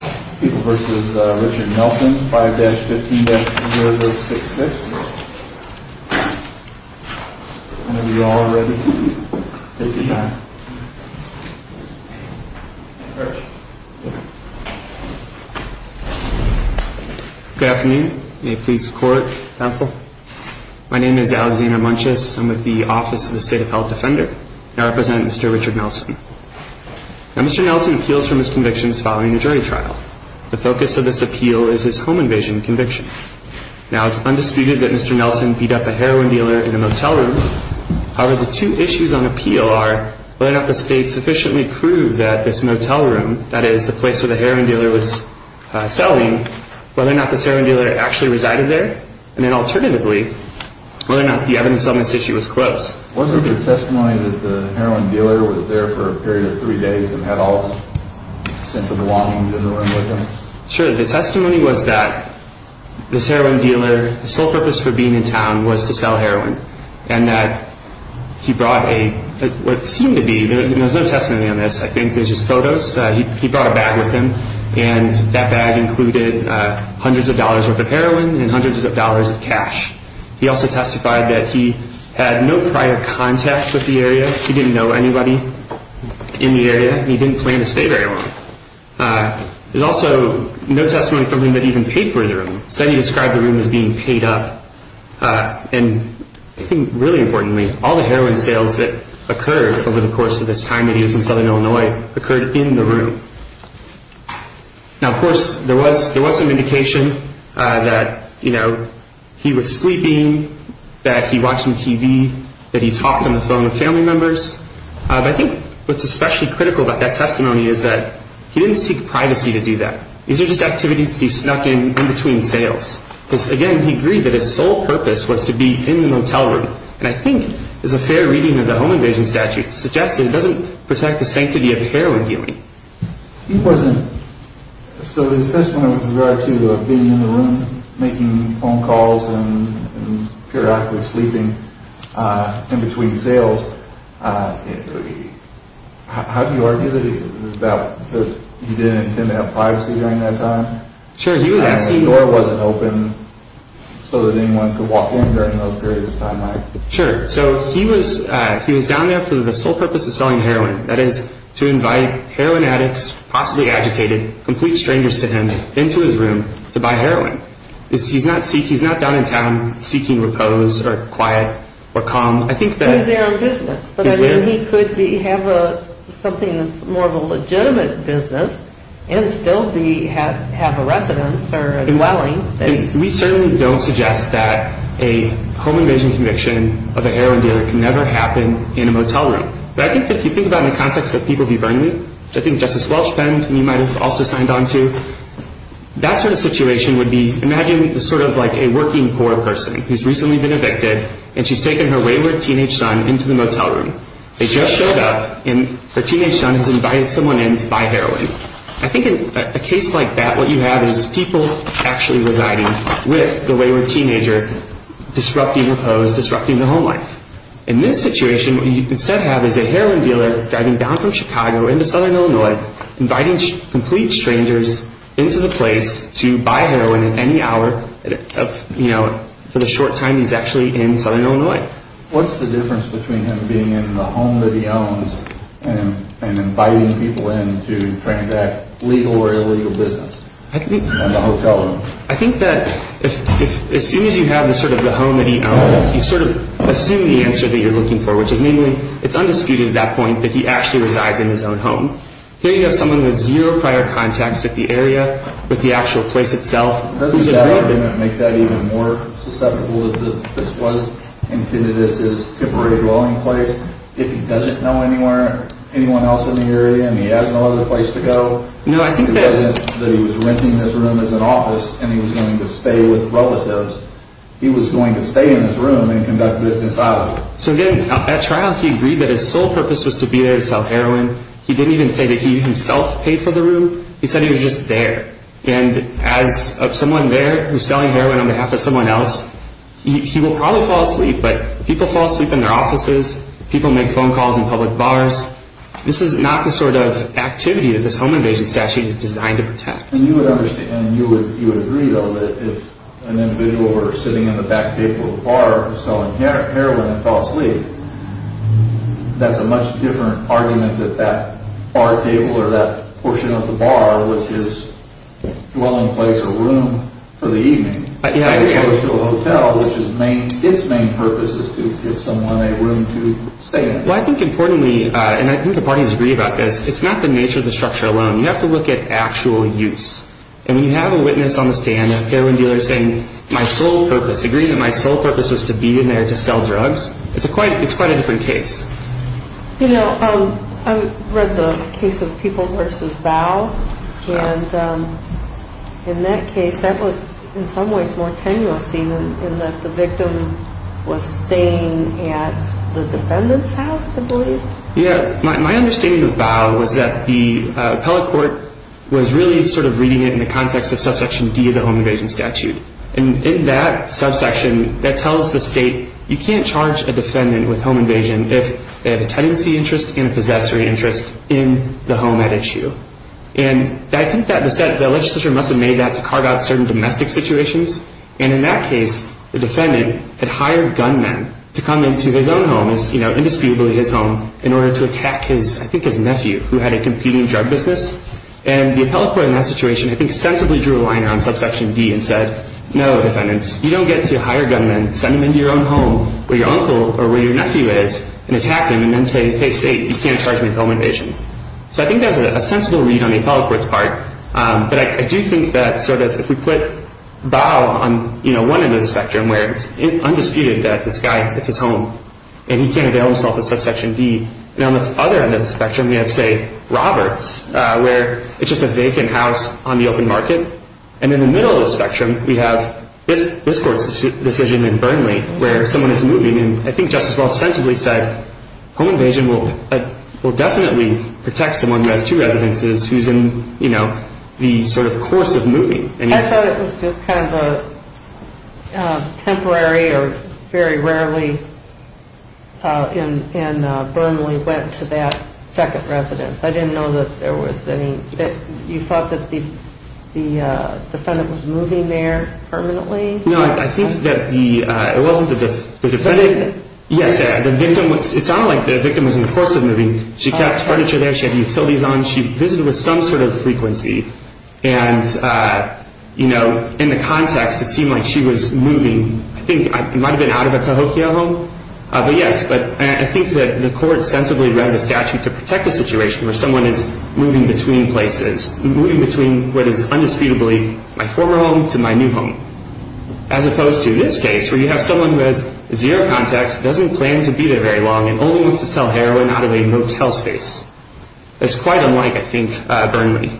5-15-0-6-6. When you are all ready, take your time. Good afternoon. May it please the Court, Counsel. My name is Alexander Munches. I'm with the Office of the State Appellate Defender. I represent Mr. Richard Nelson. Now, Mr. Nelson appeals from his convictions following a jury trial. The focus of this appeal is his home invasion conviction. Now, it's undisputed that Mr. Nelson beat up a heroin dealer in a motel room. However, the two issues on appeal are whether or not the State sufficiently proved that this motel room, that is, the place where the heroin dealer was selling, whether or not this heroin dealer actually resided there, and then alternatively, whether or not the evidence on this issue was close. Was there testimony that the heroin dealer was there for a period of three days and had all of his essential belongings in the room with him? Sure. The testimony was that this heroin dealer, his sole purpose for being in town was to sell heroin. And that he brought a, what seemed to be, there was no testimony on this. I think there's just photos. He brought a bag with him. And that bag included hundreds of dollars worth of heroin and hundreds of dollars of cash. He also testified that he had no prior contact with the area. He didn't know anybody in the area, and he didn't plan to stay very long. There's also no testimony from him that he even paid for the room. The study described the room as being paid up. And I think, really importantly, all the heroin sales that occurred over the course of this time that he was in southern Illinois occurred in the room. Now, of course, there was some indication that, you know, he was sleeping, that he watched some TV, that he talked on the phone with family members. But I think what's especially critical about that testimony is that he didn't seek privacy to do that. These are just activities that he snuck in in between sales. Because, again, he agreed that his sole purpose was to be in the motel room. And I think, as a fair reading of the Home Invasion Statute suggests, it doesn't protect the sanctity of heroin dealing. He wasn't – so his testimony with regard to being in the room, making phone calls, and periodically sleeping in between sales, how do you argue that it was about – because he didn't intend to have privacy during that time? Sure, he was asking – So that anyone could walk in during those periods of time, right? Sure. So he was down there for the sole purpose of selling heroin, that is, to invite heroin addicts, possibly agitated, complete strangers to him, into his room to buy heroin. He's not down in town seeking repose or quiet or calm. He's there on business. But I mean, he could have something that's more of a legitimate business and still have a residence or a dwelling. We certainly don't suggest that a home invasion conviction of a heroin dealer can never happen in a motel room. But I think if you think about it in the context of People v. Burnley, which I think Justice Welch penned and you might have also signed on to, that sort of situation would be – imagine sort of like a working poor person who's recently been evicted, and she's taken her wayward teenage son into the motel room. They just showed up, and her teenage son has invited someone in to buy heroin. I think in a case like that, what you have is people actually residing with the wayward teenager, disrupting repose, disrupting the home life. In this situation, what you instead have is a heroin dealer driving down from Chicago into southern Illinois, inviting complete strangers into the place to buy heroin at any hour, for the short time he's actually in southern Illinois. What's the difference between him being in the home that he owns and inviting people in to transact legal or illegal business in the motel room? I think that as soon as you have sort of the home that he owns, you sort of assume the answer that you're looking for, which is namely, it's undisputed at that point that he actually resides in his own home. Here you have someone with zero prior contacts with the area, with the actual place itself. Doesn't that argument make that even more susceptible that this was intended as his temporary dwelling place? If he doesn't know anyone else in the area and he has no other place to go, that he was renting his room as an office and he was going to stay with relatives, he was going to stay in his room and conduct business outside of it. So again, at trial he agreed that his sole purpose was to be there to sell heroin. He didn't even say that he himself paid for the room. He said he was just there. And as someone there who's selling heroin on behalf of someone else, he will probably fall asleep, but people fall asleep in their offices. People make phone calls in public bars. This is not the sort of activity that this home invasion statute is designed to protect. And you would agree, though, that if an individual were sitting in the back table of a bar selling heroin and fell asleep, that's a much different argument that that bar table or that portion of the bar, which is a dwelling place or room for the evening, as opposed to a hotel, which its main purpose is to give someone a room to stay in. Well, I think importantly, and I think the parties agree about this, it's not the nature of the structure alone. You have to look at actual use. And when you have a witness on the stand, a heroin dealer saying, my sole purpose, agreeing that my sole purpose was to be in there to sell drugs, it's quite a different case. You know, I read the case of People v. Bow. And in that case, that was in some ways more tenuous scene in that the victim was staying at the defendant's house, I believe. Yeah, my understanding of Bow was that the appellate court was really sort of reading it in the context of subsection D of the home invasion statute. And in that subsection, that tells the state you can't charge a defendant with home invasion if they have a tenancy interest and a possessory interest in the home at issue. And I think that the legislature must have made that to card out certain domestic situations. And in that case, the defendant had hired gunmen to come into his own home, you know, indisputably his home, in order to attack his, I think his nephew, who had a competing drug business. And the appellate court in that situation, I think, sensibly drew a line on subsection D and said, no, defendant, you don't get to hire gunmen, send them into your own home where your uncle or where your nephew is and attack them and then say, hey, state, you can't charge me with home invasion. So I think that was a sensible read on the appellate court's part. But I do think that sort of if we put Bow on, you know, one end of the spectrum where it's undisputed that this guy gets his home and he can't avail himself of subsection D, and on the other end of the spectrum we have, say, Roberts, where it's just a vacant house on the open market, and in the middle of the spectrum we have this court's decision in Burnley where someone is moving, and I think Justice Walsh sensibly said, home invasion will definitely protect someone who has two residences who's in, you know, the sort of course of moving. I thought it was just kind of a temporary or very rarely in Burnley went to that second residence. I didn't know that there was any – you thought that the defendant was moving there permanently? No, I think that the – it wasn't the defendant. Yes, the victim was – it sounded like the victim was in the course of moving. She kept furniture there. She had utilities on. She visited with some sort of frequency. And, you know, in the context it seemed like she was moving. I think it might have been out of a cahokia home, but yes. But I think that the court sensibly read the statute to protect the situation where someone is moving between places, moving between what is undisputably my former home to my new home, as opposed to this case where you have someone who has zero contacts, doesn't plan to be there very long, and only wants to sell heroin out of a motel space. That's quite unlike, I think, Burnley.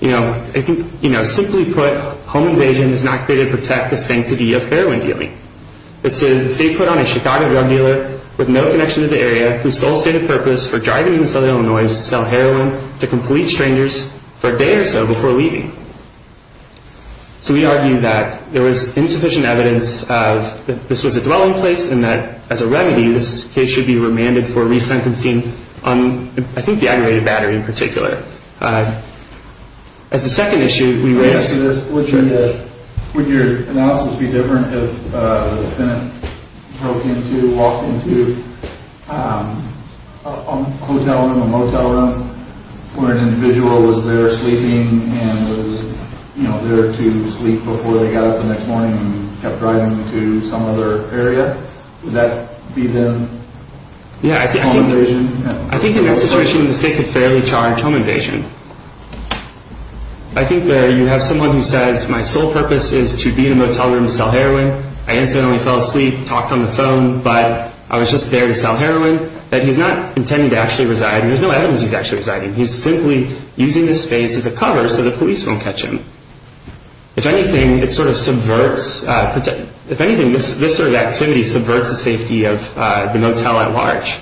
You know, simply put, home invasion does not create or protect the sanctity of heroin dealing. The state put on a Chicago drug dealer with no connection to the area whose sole stated purpose for driving into Southern Illinois is to sell heroin to complete strangers for a day or so before leaving. So we argue that there was insufficient evidence that this was a dwelling place and that, as a remedy, this case should be remanded for resentencing on, I think, the aggravated battery in particular. As a second issue, we raised – Would your analysis be different if the defendant broke into, walked into a motel room where an individual was there sleeping and was there to sleep before they got up the next morning and kept driving to some other area? Would that be then home invasion? I think in that situation the state could fairly charge home invasion. I think there you have someone who says, My sole purpose is to be in a motel room to sell heroin. I incidentally fell asleep, talked on the phone, but I was just there to sell heroin. That he's not intending to actually reside. There's no evidence he's actually residing. He's simply using the space as a cover so the police won't catch him. If anything, it sort of subverts – If anything, this sort of activity subverts the safety of the motel at large.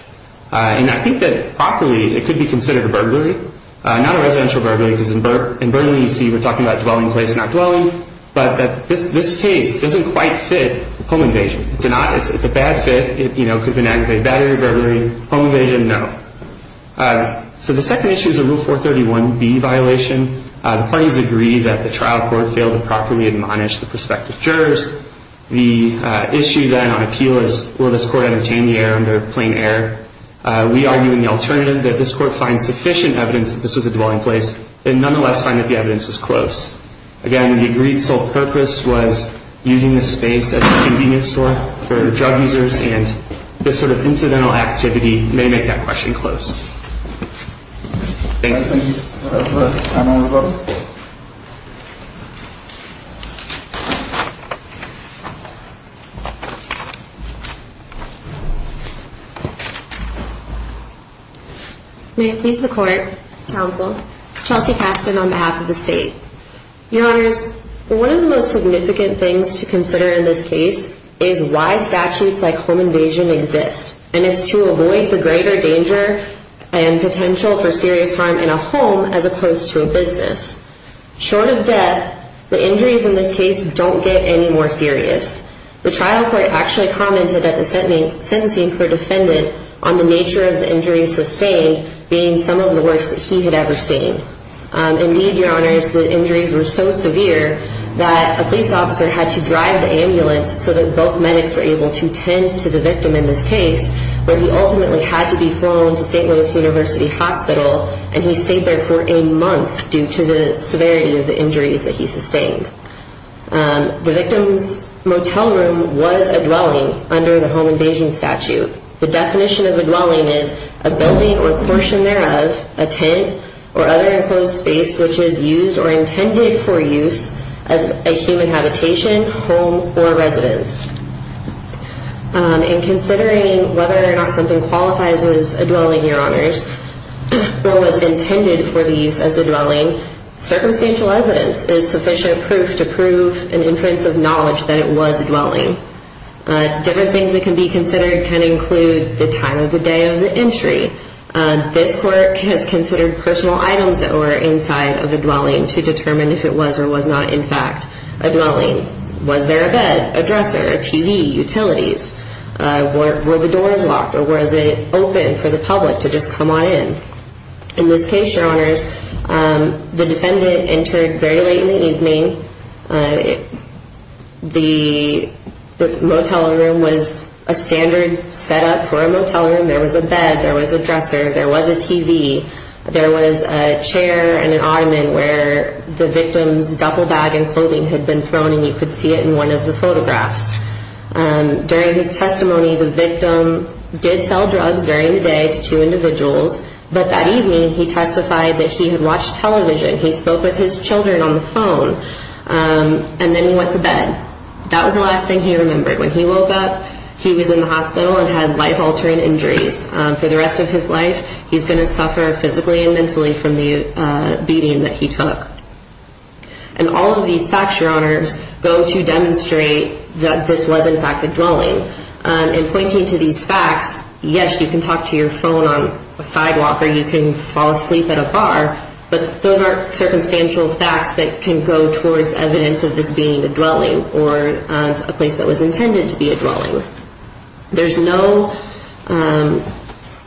And I think that, properly, it could be considered a burglary. Not a residential burglary because in burglary you see we're talking about dwelling place, not dwelling. But this case doesn't quite fit home invasion. It's a bad fit. It could be an aggravated battery burglary. Home invasion, no. So the second issue is a Rule 431B violation. The parties agree that the trial court failed to properly admonish the prospective jurors. The issue then on appeal is, will this court entertain the error under plain error? We argue in the alternative that this court finds sufficient evidence that this was a dwelling place and nonetheless find that the evidence was close. Again, the agreed sole purpose was using this space as a convenience store for drug users and this sort of incidental activity may make that question close. Thank you. Thank you. May it please the Court, Counsel, Chelsea Casten on behalf of the State. Your Honors, one of the most significant things to consider in this case is why statutes like home invasion exist. And it's to avoid the greater danger and potential for serious harm in a home as opposed to a business. Short of death, the injuries in this case don't get any more serious. The trial court actually commented that the sentencing for defendant on the nature of the injury sustained being some of the worst that he had ever seen. Indeed, Your Honors, the injuries were so severe that a police officer had to drive the ambulance so that both medics were able to tend to the victim in this case, but he ultimately had to be flown to St. Louis University Hospital and he stayed there for a month due to the severity of the injuries that he sustained. The victim's motel room was a dwelling under the home invasion statute. The definition of a dwelling is a building or portion thereof, a tent, or other enclosed space which is used or intended for use as a human habitation, home, or residence. In considering whether or not something qualifies as a dwelling, Your Honors, or was intended for the use as a dwelling, circumstantial evidence is sufficient proof to prove an inference of knowledge that it was a dwelling. Different things that can be considered can include the time of the day of the injury. This court has considered personal items that were inside of the dwelling to determine if it was or was not in fact a dwelling. Was there a bed, a dresser, a TV, utilities? Were the doors locked or was it open for the public to just come on in? In this case, Your Honors, the defendant entered very late in the evening. The motel room was a standard setup for a motel room. There was a bed, there was a dresser, there was a TV. There was a chair and an ottoman where the victim's duffel bag and clothing had been thrown, and you could see it in one of the photographs. During his testimony, the victim did sell drugs during the day to two individuals, but that evening he testified that he had watched television. He spoke with his children on the phone, and then he went to bed. That was the last thing he remembered. When he woke up, he was in the hospital and had life-altering injuries. For the rest of his life, he's going to suffer physically and mentally from the beating that he took. And all of these facts, Your Honors, go to demonstrate that this was in fact a dwelling. In pointing to these facts, yes, you can talk to your phone on a sidewalk or you can fall asleep at a bar, but those aren't circumstantial facts that can go towards evidence of this being a dwelling or a place that was intended to be a dwelling. There's no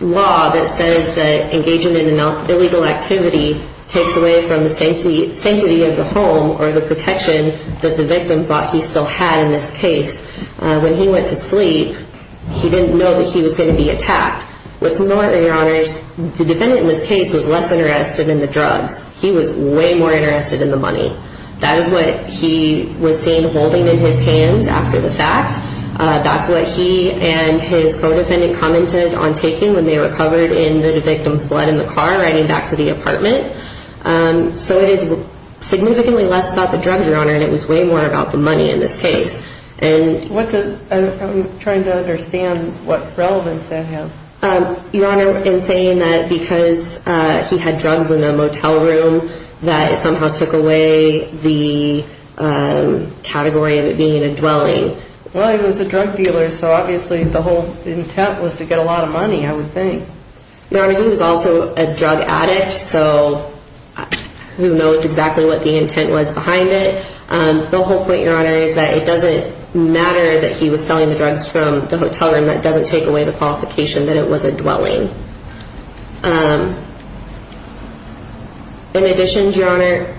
law that says that engaging in an illegal activity takes away from the sanctity of the home or the protection that the victim thought he still had in this case. When he went to sleep, he didn't know that he was going to be attacked. What's more, Your Honors, the defendant in this case was less interested in the drugs. He was way more interested in the money. That is what he was seeing holding in his hands after the fact. That's what he and his co-defendant commented on taking when they were covered in the victim's blood in the car riding back to the apartment. So it is significantly less about the drugs, Your Honor, and it was way more about the money in this case. I'm trying to understand what relevance that has. Your Honor, in saying that because he had drugs in the motel room that it somehow took away the category of it being a dwelling. Well, he was a drug dealer, so obviously the whole intent was to get a lot of money, I would think. Your Honor, he was also a drug addict, so who knows exactly what the intent was behind it. The whole point, Your Honor, is that it doesn't matter that he was selling the drugs from the hotel room. That doesn't take away the qualification that it was a dwelling. In addition, Your Honor,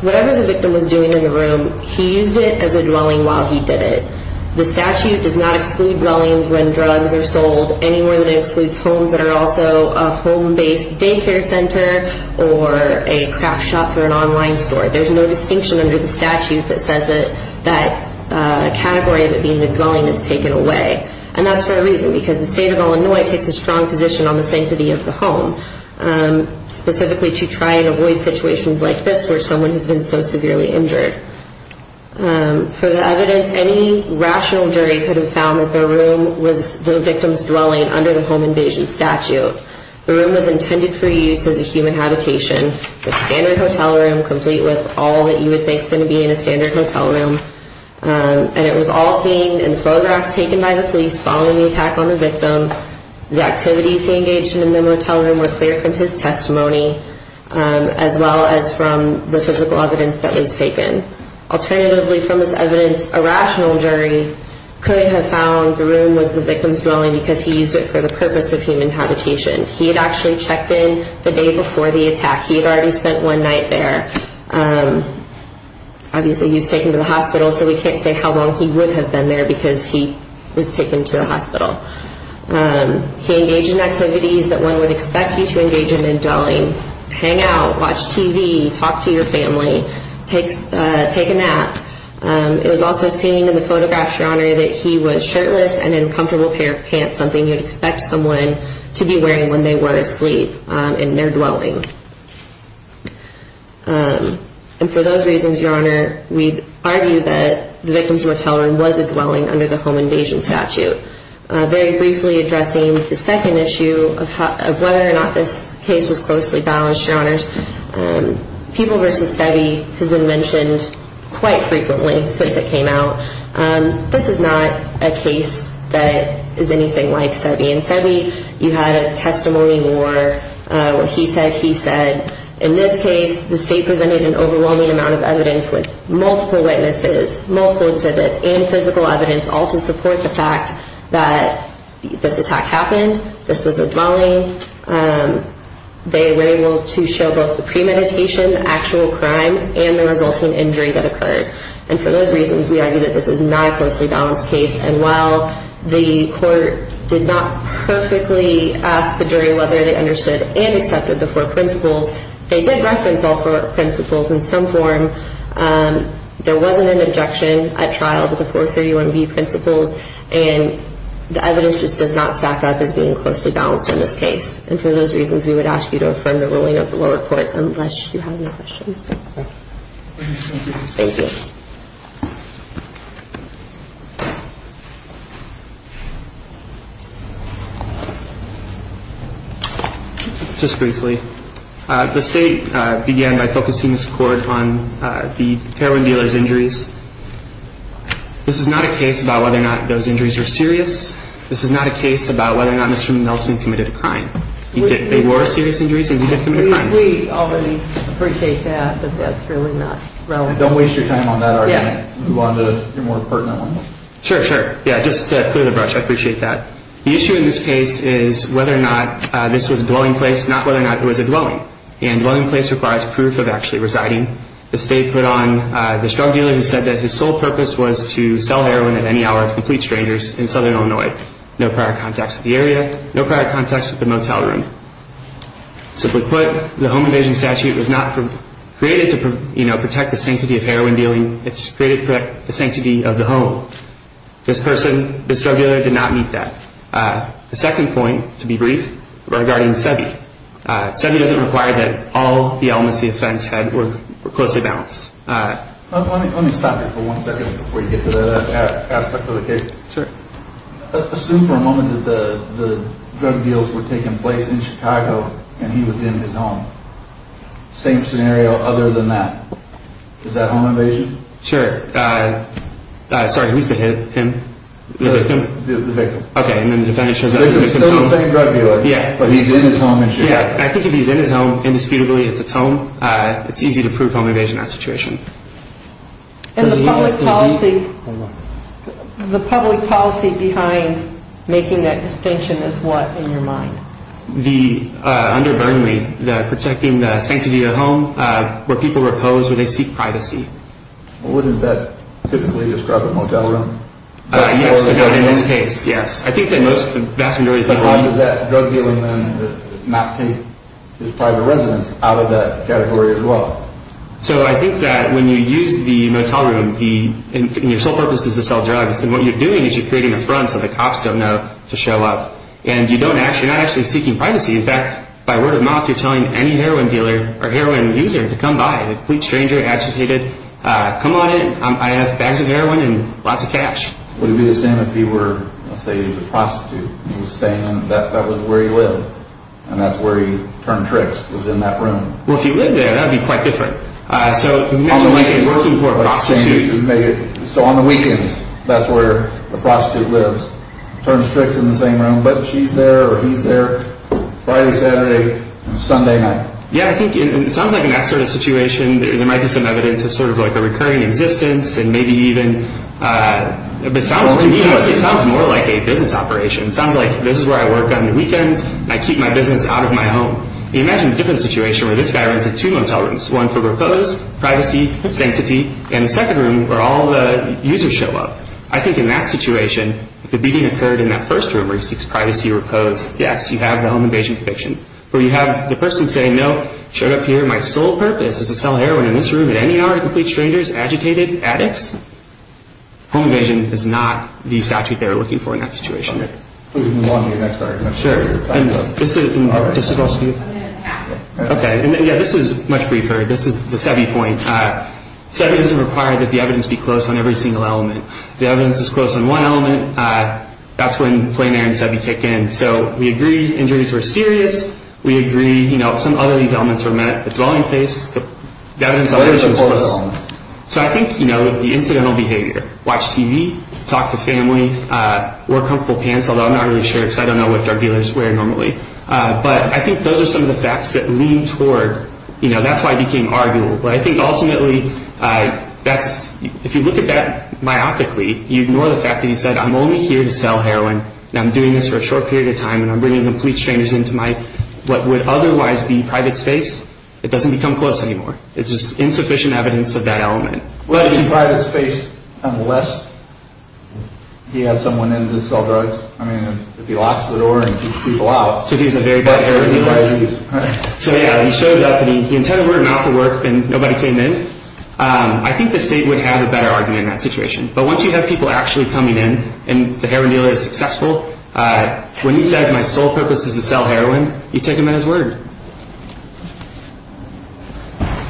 whatever the victim was doing in the room, he used it as a dwelling while he did it. The statute does not exclude dwellings when drugs are sold, anywhere that it excludes homes that are also a home-based daycare center or a craft shop or an online store. There's no distinction under the statute that says that that category of it being a dwelling is taken away. And that's for a reason, because the state of Illinois takes a strong position on the sanctity of the home, specifically to try and avoid situations like this where someone has been so severely injured. For the evidence, any rational jury could have found that the room was the victim's dwelling under the home invasion statute. The room was intended for use as a human habitation, a standard hotel room, complete with all that you would think is going to be in a standard hotel room. And it was all seen in photographs taken by the police following the attack on the victim. The activities he engaged in in the motel room were clear from his testimony, as well as from the physical evidence that was taken. Alternatively, from this evidence, a rational jury could have found the room was the victim's dwelling because he used it for the purpose of human habitation. He had actually checked in the day before the attack. He had already spent one night there. Obviously, he was taken to the hospital, so we can't say how long he would have been there because he was taken to the hospital. He engaged in activities that one would expect you to engage in in dwelling. Hang out, watch TV, talk to your family, take a nap. It was also seen in the photographs, Your Honor, that he was shirtless and in a comfortable pair of pants, something you would expect someone to be wearing when they were asleep in their dwelling. And for those reasons, Your Honor, we argue that the victim's motel room was a dwelling under the home invasion statute. Very briefly addressing the second issue of whether or not this case was closely balanced, Your Honors, people versus SEBI has been mentioned quite frequently since it came out. This is not a case that is anything like SEBI. In SEBI, you had a testimony where he said he said, in this case, the state presented an overwhelming amount of evidence with multiple witnesses, multiple exhibits, and physical evidence all to support the fact that this attack happened, this was a dwelling. They were able to show both the premeditation, the actual crime, and the resulting injury that occurred. And for those reasons, we argue that this is not a closely balanced case. And while the court did not perfectly ask the jury whether they understood and accepted the four principles, they did reference all four principles in some form. There wasn't an objection at trial to the 431B principles, and the evidence just does not stack up as being closely balanced in this case. And for those reasons, we would ask you to affirm the ruling of the lower court unless you have any questions. Thank you. Just briefly, the state began by focusing this court on the heroin dealers' injuries. This is not a case about whether or not those injuries were serious. This is not a case about whether or not Mr. Nelson committed a crime. They were serious injuries, and he did commit a crime. We already appreciate that, but that's really not relevant. Don't waste your time. Sure, sure. Yeah, just clear the brush. I appreciate that. The issue in this case is whether or not this was a dwelling place, not whether or not it was a dwelling. And dwelling place requires proof of actually residing. The state put on the drug dealer who said that his sole purpose was to sell heroin at any hour to complete strangers in southern Illinois. No prior contacts with the area, no prior contacts with the motel room. Simply put, the home invasion statute was not created to protect the sanctity of heroin dealing. It's created to protect the sanctity of the home. This person, this drug dealer, did not meet that. The second point, to be brief, regarding SEBI. SEBI doesn't require that all the elements of the offense were closely balanced. Let me stop you for one second before you get to that aspect of the case. Sure. Assume for a moment that the drug deals were taking place in Chicago and he was in his home. Same scenario other than that. Is that home invasion? Sure. Sorry, who's the hit? Him? The victim. The victim. Okay, and then the defendant shows up. The second drug dealer. Yeah. But he's in his home in Chicago. Yeah, I think if he's in his home, indisputably it's his home, it's easy to prove home invasion in that situation. And the public policy behind making that distinction is what in your mind? Under Burnley, protecting the sanctity of the home where people repose, where they seek privacy. Well, wouldn't that typically describe a motel room? Yes, in this case, yes. I think that most, the vast majority of people. But how does that drug dealer then not take his private residence out of that category as well? So I think that when you use the motel room and your sole purpose is to sell drugs, then what you're doing is you're creating a front so the cops don't know to show up. And you're not actually seeking privacy. In fact, by word of mouth, you're telling any heroin dealer or heroin user to come by, a complete stranger, agitated, come on in, I have bags of heroin and lots of cash. Would it be the same if he were, say, the prostitute and he was staying in, that was where he lived, and that's where he turned tricks, was in that room? Well, if he lived there, that would be quite different. So imagine working for a prostitute. So on the weekends, that's where the prostitute lives, turns tricks in the same room, but she's there or he's there, Friday, Saturday, Sunday night. Yeah, I think it sounds like in that sort of situation, there might be some evidence of sort of like a recurring existence and maybe even, but to me, it sounds more like a business operation. It sounds like this is where I work on the weekends, I keep my business out of my home. Imagine a different situation where this guy rented two motel rooms, one for repose, privacy, sanctity, and the second room where all the users show up. I think in that situation, if the beating occurred in that first room where he seeks privacy or repose, yes, you have the home invasion conviction. Where you have the person saying, no, showed up here, my sole purpose is to sell heroin in this room at any hour to complete strangers, agitated, addicts? Home invasion is not the statute they were looking for in that situation. Please move on to your next argument. This is much briefer. This is the SEBI point. SEBI doesn't require that the evidence be close on every single element. If the evidence is close on one element, that's when plain air and SEBI kick in. So we agree injuries were serious. We agree some other of these elements were met. The dwelling place, the evidence elevation was close. So I think the incidental behavior, watch TV, talk to family, wear comfortable pants, although I'm not really sure because I don't know what drug dealers wear normally. But I think those are some of the facts that lean toward, you know, that's why I became arguable. But I think ultimately, if you look at that myopically, you ignore the fact that he said, I'm only here to sell heroin, and I'm doing this for a short period of time, and I'm bringing complete strangers into what would otherwise be private space. It doesn't become close anymore. It's just insufficient evidence of that element. What is private space unless he had someone in to sell drugs? I mean, if he locks the door and keeps people out. So he's a very bad heroin dealer. So yeah, he shows up, and he intended we're not to work, and nobody came in. I think the state would have a better argument in that situation. But once you have people actually coming in, and the heroin dealer is successful, when he says my sole purpose is to sell heroin, you take him at his word.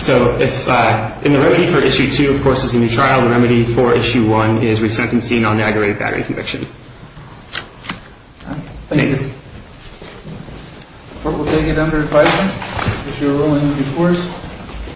So if in the remedy for Issue 2, of course, is a new trial, the remedy for Issue 1 is resentencing on the aggravated battery conviction. Thank you. Court will take it under advisement. If you're willing, of course.